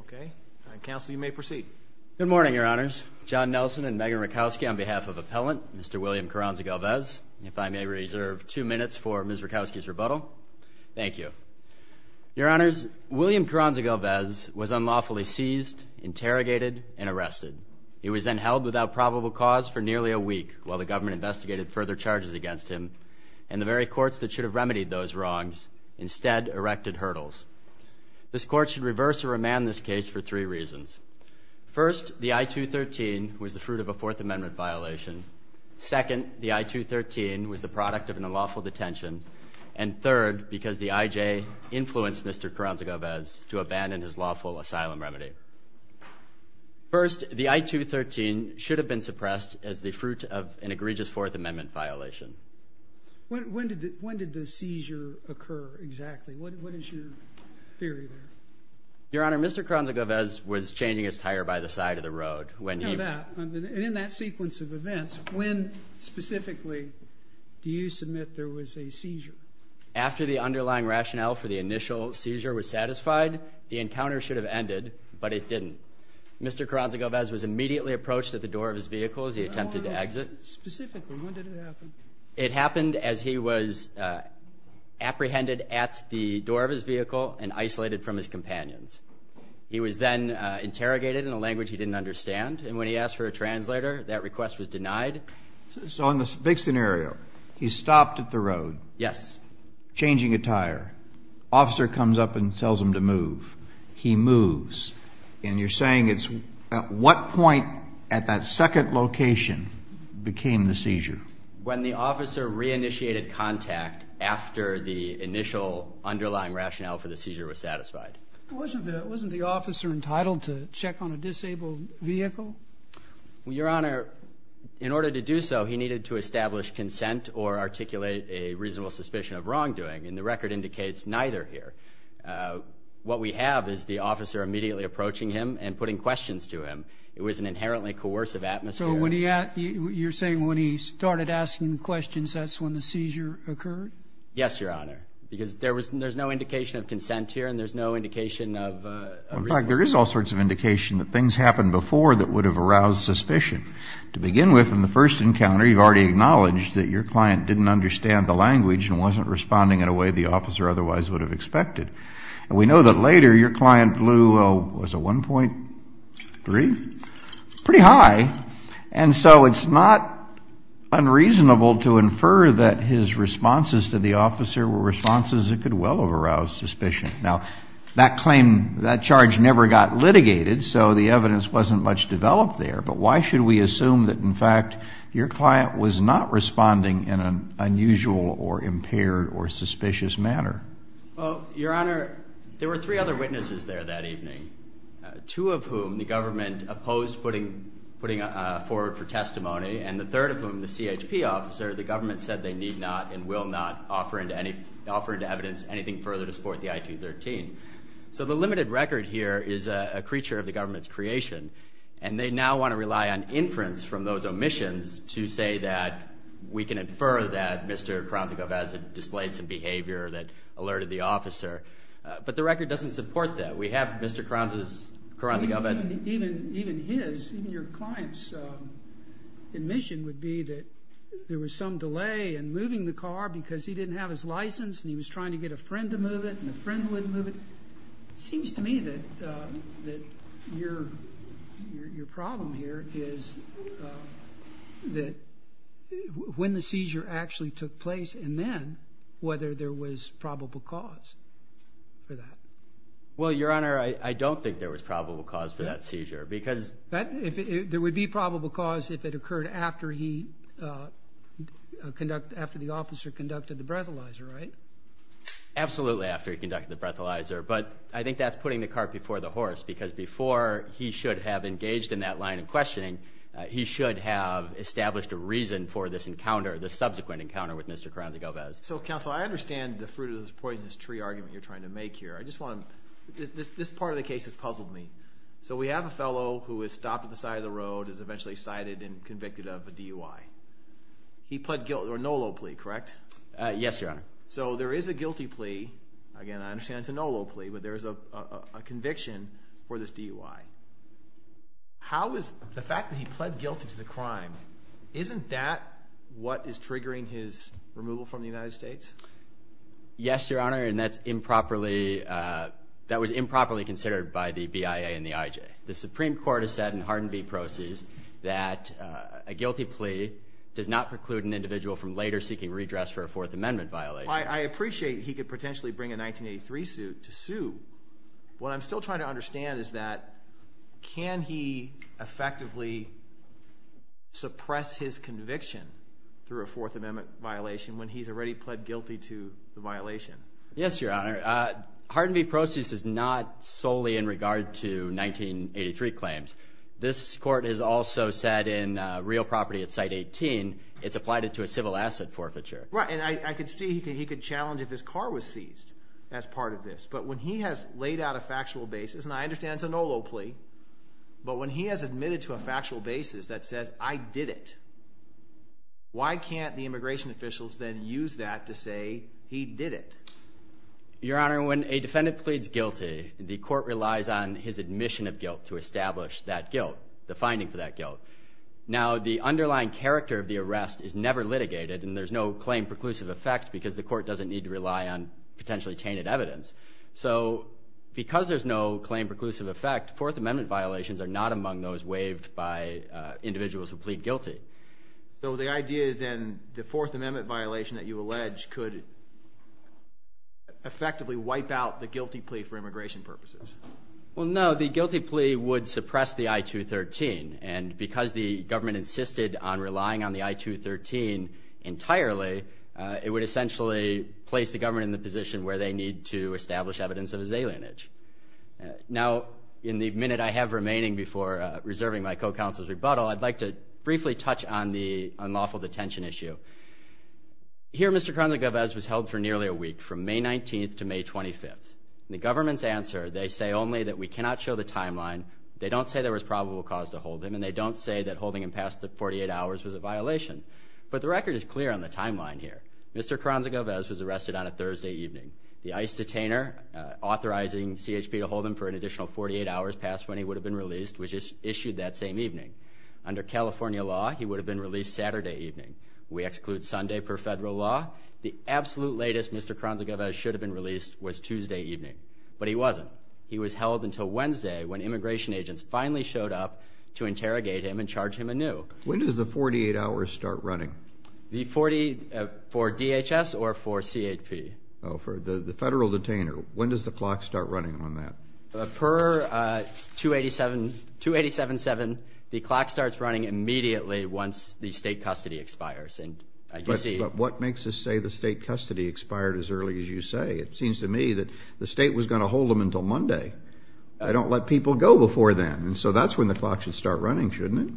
Okay. Counsel, you may proceed. Good morning, Your Honors. John Nelson and Megan Rakowski on behalf of Appellant Mr. William Carranza Galvez, if I may reserve two minutes for Ms. Rakowski's rebuttal. Thank you. Your Honors, William Carranza Galvez was unlawfully seized, interrogated, and arrested. He was then held without probable cause for nearly a week while the government investigated further charges against him, and the very courts that should have remedied those wrongs instead erected hurdles. This Court should reverse or remand this case for three reasons. First, the I-213 was the fruit of a Fourth Amendment violation. Second, the I-213 was the product of an unlawful detention. And third, because the IJ influenced Mr. Carranza Galvez to abandon his lawful asylum remedy. First, the I-213 should have been suppressed as the fruit of an egregious Fourth Amendment violation. When did the seizure occur exactly? What is your theory there? Your Honor, Mr. Carranza Galvez was changing his tire by the side of the road. And in that sequence of events, when specifically do you submit there was a seizure? After the underlying rationale for the initial seizure was satisfied, the encounter should have ended, but it didn't. Mr. Carranza Galvez was immediately approached at the door of his vehicle as he attempted to exit. Specifically, when did it happen? It happened as he was apprehended at the door of his vehicle and isolated from his companions. He was then interrogated in a language he didn't understand. And when he asked for a translator, that request was denied. So in this big scenario, he stopped at the road. Yes. Changing a tire. Officer comes up and tells him to move. He moves. And you're saying it's at what point at that second location became the seizure? When the officer reinitiated contact after the initial underlying rationale for the seizure was satisfied. Wasn't the officer entitled to check on a disabled vehicle? Your Honor, in order to do so, he needed to establish consent or articulate a reasonable suspicion of wrongdoing. And the record indicates neither here. What we have is the officer immediately approaching him and putting questions to him. It was an inherently coercive atmosphere. So you're saying when he started asking questions, that's when the seizure occurred? Yes, Your Honor. Because there's no indication of consent here and there's no indication of a reasonable suspicion. In fact, there is all sorts of indication that things happened before that would have aroused suspicion. To begin with, in the first encounter, you've already acknowledged that your client didn't understand the language and wasn't responding in a way the officer otherwise would have expected. And we know that later, your client blew a 1.3? Pretty high. And so it's not unreasonable to infer that his responses to the officer were responses that could well have aroused suspicion. Now, that charge never got litigated, so the evidence wasn't much developed there. But why should we assume that, in fact, your client was not responding in an unusual or impaired or suspicious manner? Well, Your Honor, there were three other witnesses there that evening, two of whom the government opposed putting forward for testimony and the third of whom, the CHP officer, the government said they need not and will not offer into evidence anything further to support the I-213. So the limited record here is a creature of the government's creation. And they now want to rely on inference from those omissions to say that we can infer that Mr. Carranza-Galvez had displayed some behavior that alerted the officer. But the record doesn't support that. We have Mr. Carranza-Galvez. Even his, even your client's admission would be that there was some delay in moving the car because he didn't have his license and he was trying to get a friend to move it and a friend wouldn't move it. It seems to me that your problem here is that when the seizure actually took place and then whether there was probable cause for that. Well, Your Honor, I don't think there was probable cause for that seizure because There would be probable cause if it occurred after the officer conducted the breathalyzer, right? Absolutely after he conducted the breathalyzer, but I think that's putting the cart before the horse because before he should have engaged in that line of questioning, he should have established a reason for this encounter, this subsequent encounter with Mr. Carranza-Galvez. So, Counsel, I understand the fruit of this poisonous tree argument you're trying to make here. I just want to, this part of the case has puzzled me. So we have a fellow who was stopped at the side of the road, is eventually cited and convicted of a DUI. He pled guilt or no low plea, correct? Yes, Your Honor. So there is a guilty plea. Again, I understand it's a no low plea, but there is a conviction for this DUI. How is the fact that he pled guilty to the crime, isn't that what is triggering his removal from the United States? Yes, Your Honor, and that's improperly, that was improperly considered by the BIA and the IJ. The Supreme Court has said in Hardin v. Proceeds that a guilty plea does not preclude an individual from later seeking redress for a Fourth Amendment violation. I appreciate he could potentially bring a 1983 suit to sue. What I'm still trying to understand is that can he effectively suppress his conviction through a Fourth Amendment violation when he's already pled guilty to the violation? Yes, Your Honor. Hardin v. Proceeds is not solely in regard to 1983 claims. This court has also said in Real Property at Site 18, it's applied it to a civil asset forfeiture. Right, and I could see he could challenge if his car was seized as part of this. But when he has laid out a factual basis, and I understand it's a no low plea, but when he has admitted to a factual basis that says I did it, why can't the immigration officials then use that to say he did it? Your Honor, when a defendant pleads guilty, the court relies on his admission of guilt to establish that guilt, the finding for that guilt. Now, the underlying character of the arrest is never litigated, and there's no claim preclusive effect because the court doesn't need to rely on potentially tainted evidence. So because there's no claim preclusive effect, Fourth Amendment violations are not among those waived by individuals who plead guilty. So the idea is then the Fourth Amendment violation that you allege could effectively wipe out the guilty plea for immigration purposes. Well, no, the guilty plea would suppress the I-213, and because the government insisted on relying on the I-213 entirely, it would essentially place the government in the position where they need to establish evidence of his alienage. Now, in the minute I have remaining before reserving my co-counsel's rebuttal, I'd like to briefly touch on the unlawful detention issue. Here, Mr. Carranza-Govez was held for nearly a week, from May 19th to May 25th. In the government's answer, they say only that we cannot show the timeline, they don't say there was probable cause to hold him, and they don't say that holding him past the 48 hours was a violation. But the record is clear on the timeline here. Mr. Carranza-Govez was arrested on a Thursday evening. The ICE detainer authorizing CHP to hold him for an additional 48 hours past when he would have been released, which is issued that same evening. Under California law, he would have been released Saturday evening. We exclude Sunday per federal law. The absolute latest Mr. Carranza-Govez should have been released was Tuesday evening, but he wasn't. He was held until Wednesday when immigration agents finally showed up to interrogate him and charge him anew. When does the 48 hours start running? The 40 for DHS or for CHP? Oh, for the federal detainer. When does the clock start running on that? Per 287-7, the clock starts running immediately once the state custody expires. But what makes us say the state custody expired as early as you say? It seems to me that the state was going to hold him until Monday. I don't let people go before then, and so that's when the clock should start running, shouldn't it?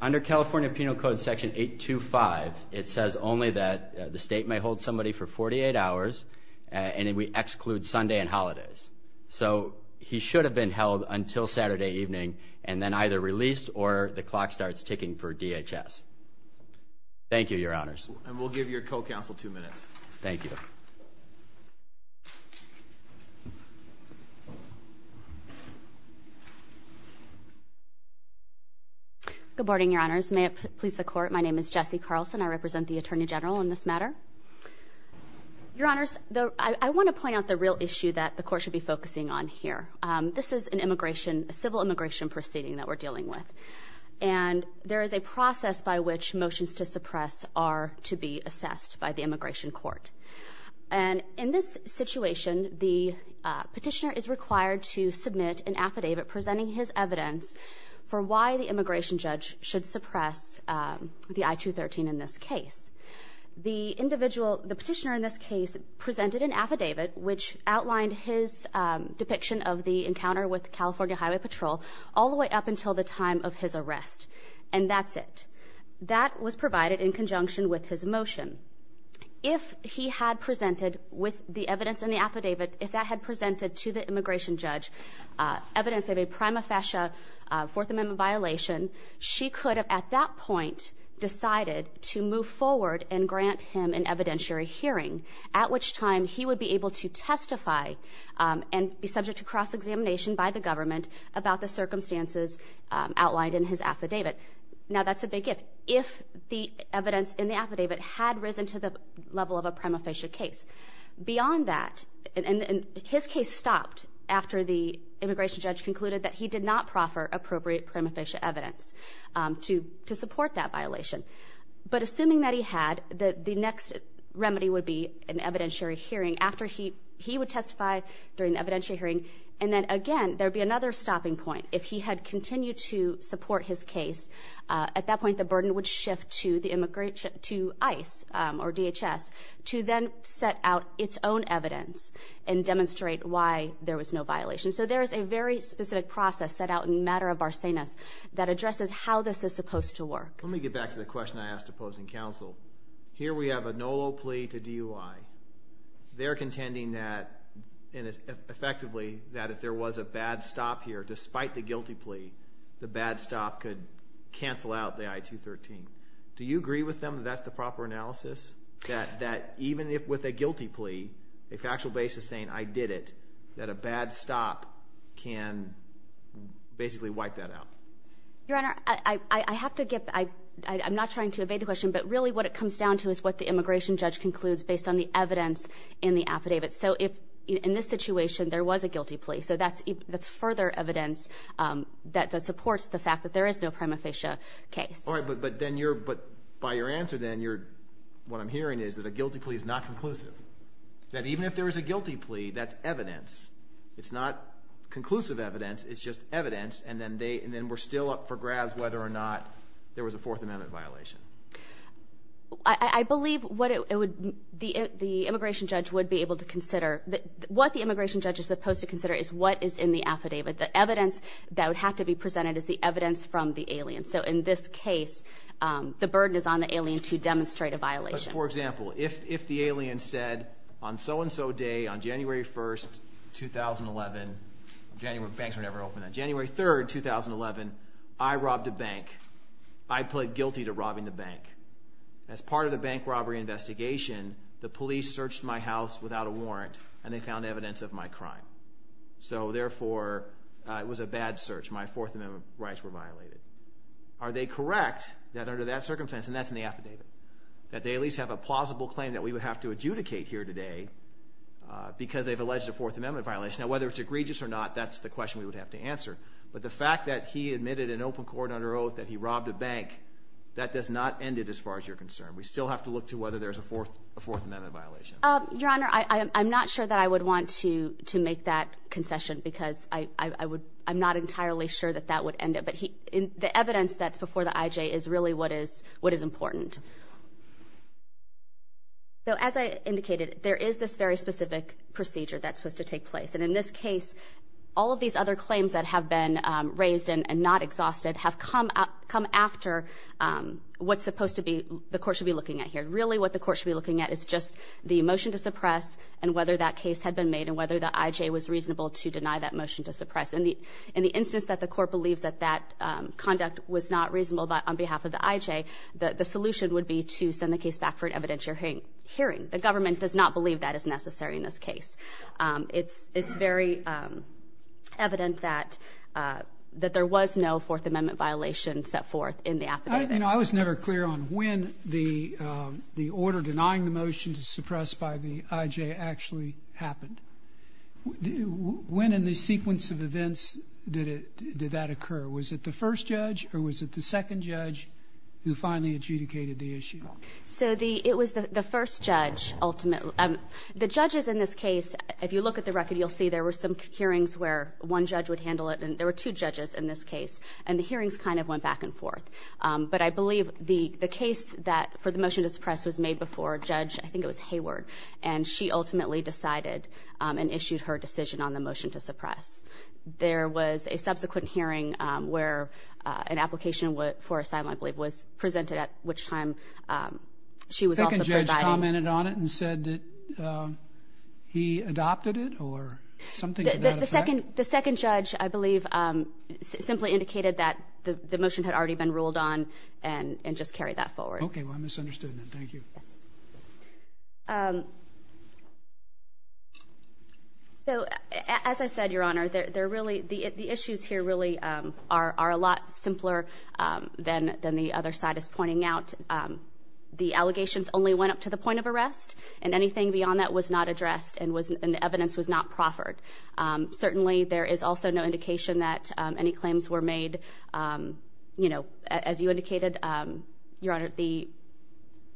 Under California Penal Code Section 825, it says only that the state may hold somebody for 48 hours, and we exclude Sunday and holidays. So he should have been held until Saturday evening and then either released or the clock starts ticking for DHS. Thank you, Your Honors. And we'll give your co-counsel two minutes. Thank you. Good morning, Your Honors. May it please the Court, my name is Jessie Carlson. I represent the Attorney General in this matter. Your Honors, I want to point out the real issue that the Court should be focusing on here. This is an immigration, a civil immigration proceeding that we're dealing with, and there is a process by which motions to suppress are to be assessed by the immigration court. And in this situation, the petitioner is required to submit an affidavit presenting his evidence for why the immigration judge should suppress the I-213 in this case. The petitioner in this case presented an affidavit which outlined his depiction of the encounter with California Highway Patrol all the way up until the time of his arrest, and that's it. That was provided in conjunction with his motion. If he had presented with the evidence in the affidavit, if that had presented to the immigration judge evidence of a prima facie Fourth Amendment violation, she could have at that point decided to move forward and grant him an evidentiary hearing, at which time he would be able to testify and be subject to cross-examination by the government about the circumstances outlined in his affidavit. Now, that's a big if. If the evidence in the affidavit had risen to the level of a prima facie case. Beyond that, and his case stopped after the immigration judge concluded that he did not proffer appropriate prima facie evidence to support that violation. But assuming that he had, the next remedy would be an evidentiary hearing after he would testify during the evidentiary hearing. And then, again, there would be another stopping point. If he had continued to support his case, at that point the burden would shift to ICE or DHS to then set out its own evidence and demonstrate why there was no violation. So there is a very specific process set out in the matter of Barsenas that addresses how this is supposed to work. Let me get back to the question I asked opposing counsel. Here we have a NOLO plea to DUI. They're contending that, effectively, that if there was a bad stop here, despite the guilty plea, the bad stop could cancel out the I-213. Do you agree with them that that's the proper analysis? That even with a guilty plea, a factual basis saying I did it, that a bad stop can basically wipe that out? Your Honor, I have to give, I'm not trying to evade the question, but really what it comes down to is what the immigration judge concludes based on the evidence in the affidavit. So if, in this situation, there was a guilty plea, so that's further evidence that supports the fact that there is no prima facie case. All right, but then you're, by your answer then, what I'm hearing is that a guilty plea is not conclusive. That even if there is a guilty plea, that's evidence. It's not conclusive evidence, it's just evidence, and then we're still up for grabs whether or not there was a Fourth Amendment violation. I believe what the immigration judge would be able to consider, what the immigration judge is supposed to consider is what is in the affidavit. The evidence that would have to be presented is the evidence from the alien. So in this case, the burden is on the alien to demonstrate a violation. For example, if the alien said, on so-and-so day, on January 1st, 2011, January 3rd, 2011, I robbed a bank. I pled guilty to robbing the bank. As part of the bank robbery investigation, the police searched my house without a warrant, and they found evidence of my crime. So therefore, it was a bad search. My Fourth Amendment rights were violated. Are they correct that under that circumstance, and that's in the affidavit, that they at least have a plausible claim that we would have to adjudicate here today because they've alleged a Fourth Amendment violation? Now, whether it's egregious or not, that's the question we would have to answer. But the fact that he admitted in open court under oath that he robbed a bank, that does not end it as far as you're concerned. We still have to look to whether there's a Fourth Amendment violation. Your Honor, I'm not sure that I would want to make that concession because I'm not entirely sure that that would end it. But the evidence that's before the IJ is really what is important. So as I indicated, there is this very specific procedure that's supposed to take place. And in this case, all of these other claims that have been raised and not exhausted have come after what's supposed to be the court should be looking at here. Really what the court should be looking at is just the motion to suppress and whether that case had been made and whether the IJ was reasonable to deny that motion to suppress. In the instance that the court believes that that conduct was not reasonable on behalf of the IJ, the solution would be to send the case back for an evidentiary hearing. The government does not believe that is necessary in this case. It's very evident that there was no Fourth Amendment violation set forth in the affidavit. I was never clear on when the order denying the motion to suppress by the IJ actually happened. When in the sequence of events did that occur? Was it the first judge or was it the second judge who finally adjudicated the issue? So it was the first judge ultimately. The judges in this case, if you look at the record, you'll see there were some hearings where one judge would handle it and there were two judges in this case. And the hearings kind of went back and forth. But I believe the case that for the motion to suppress was made before a judge, I think it was Hayward, and she ultimately decided and issued her decision on the motion to suppress. There was a subsequent hearing where an application for assignment, I believe, was presented at which time she was also providing. The second judge commented on it and said that he adopted it or something to that effect? The second judge, I believe, simply indicated that the motion had already been ruled on and just carried that forward. Okay. Well, I misunderstood then. Thank you. As I said, Your Honor, the issues here really are a lot simpler than the other side is pointing out. The allegations only went up to the point of arrest and anything beyond that was not addressed and the evidence was not proffered. Certainly there is also no indication that any claims were made. You know, as you indicated, Your Honor, the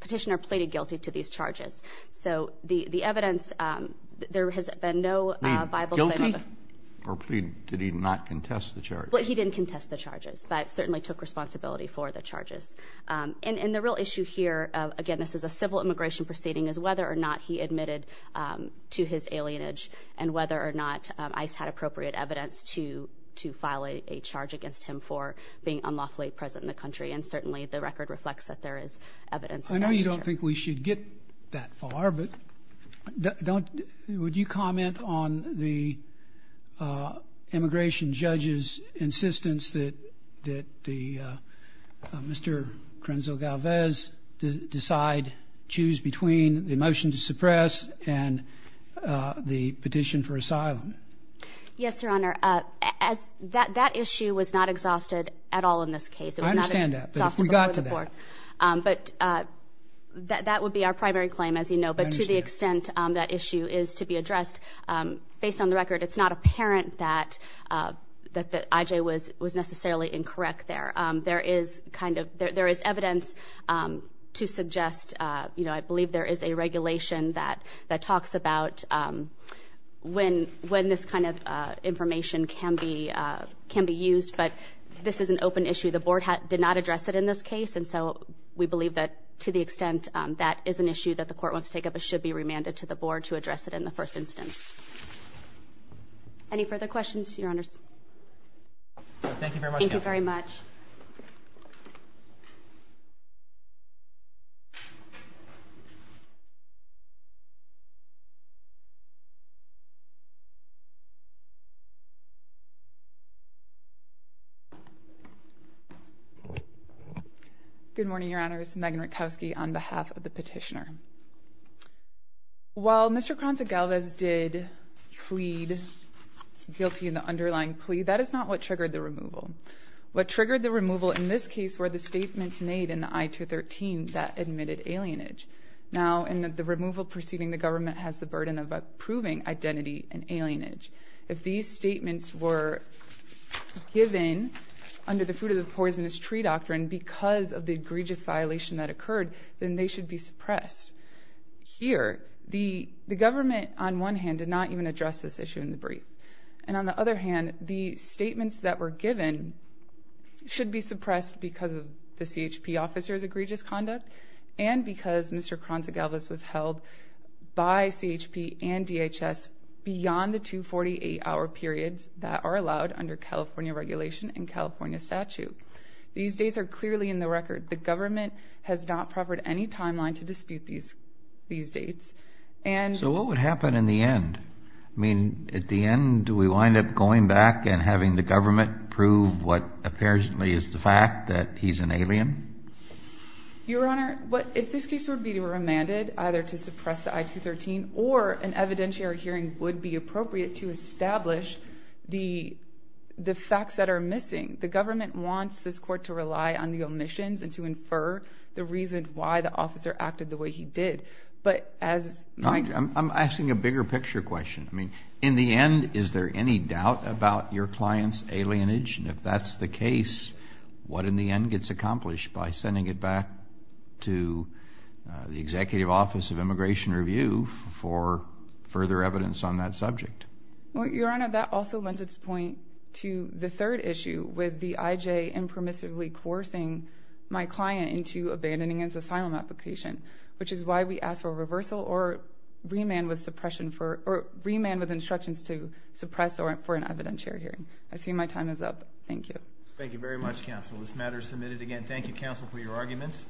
petitioner pleaded guilty to these charges. So the evidence, there has been no viable claim. Plead guilty or plead, did he not contest the charges? Well, he didn't contest the charges, but certainly took responsibility for the charges. And the real issue here, again, this is a civil immigration proceeding, is whether or not he admitted to his alienage and whether or not ICE had appropriate evidence to file a charge against him for being unlawfully present in the country. And certainly the record reflects that there is evidence of that nature. I know you don't think we should get that far, but would you comment on the immigration judge's insistence that Mr. Corenzo Galvez decide, choose between the motion to suppress and the petition for asylum? Yes, Your Honor. That issue was not exhausted at all in this case. I understand that, but if we got to that. But that would be our primary claim, as you know. But to the extent that issue is to be addressed, based on the record, it's not apparent that I.J. was necessarily incorrect there. There is evidence to suggest, you know, I believe there is a regulation that talks about when this kind of information can be used. But this is an open issue. The Board did not address it in this case, and so we believe that to the extent that is an issue that the Court wants to take up, it should be remanded to the Board to address it in the first instance. Any further questions, Your Honors? Thank you very much. Thank you very much. Good morning, Your Honors. Megan Rutkowski on behalf of the petitioner. While Mr. Corenzo Galvez did plead guilty in the underlying plea, that is not what triggered the removal. and the petitioner is a member of the Board of Trustees. What triggered the removal in this case were the statements made in the I-213 that admitted alienage. Now, in the removal proceeding, the government has the burden of approving identity and alienage. If these statements were given under the fruit-of-the-poisonous-tree doctrine because of the egregious violation that occurred, then they should be suppressed. Here, the government, on one hand, did not even address this issue in the brief. And on the other hand, the statements that were given should be suppressed because of the CHP officer's egregious conduct and because Mr. Corenzo Galvez was held by CHP and DHS beyond the 248-hour periods that are allowed under California regulation and California statute. These days are clearly in the record. The government has not proffered any timeline to dispute these dates. So what would happen in the end? I mean, at the end, do we wind up going back and having the government prove what apparently is the fact that he's an alien? Your Honor, if this case were to be remanded either to suppress the I-213 or an evidentiary hearing would be appropriate to establish the facts that are missing, the government wants this Court to rely on the omissions and to infer the reason why the officer acted the way he did. I'm asking a bigger picture question. I mean, in the end, is there any doubt about your client's alienage? And if that's the case, what in the end gets accomplished by sending it back to the Executive Office of Immigration Review for further evidence on that subject? Well, Your Honor, that also lends its point to the third issue with the IJ impermissibly coercing my client into abandoning his asylum application, which is why we ask for a reversal or remand with instructions to suppress or for an evidentiary hearing. I see my time is up. Thank you. Thank you very much, Counsel. This matter is submitted again. Thank you, Counsel, for your arguments.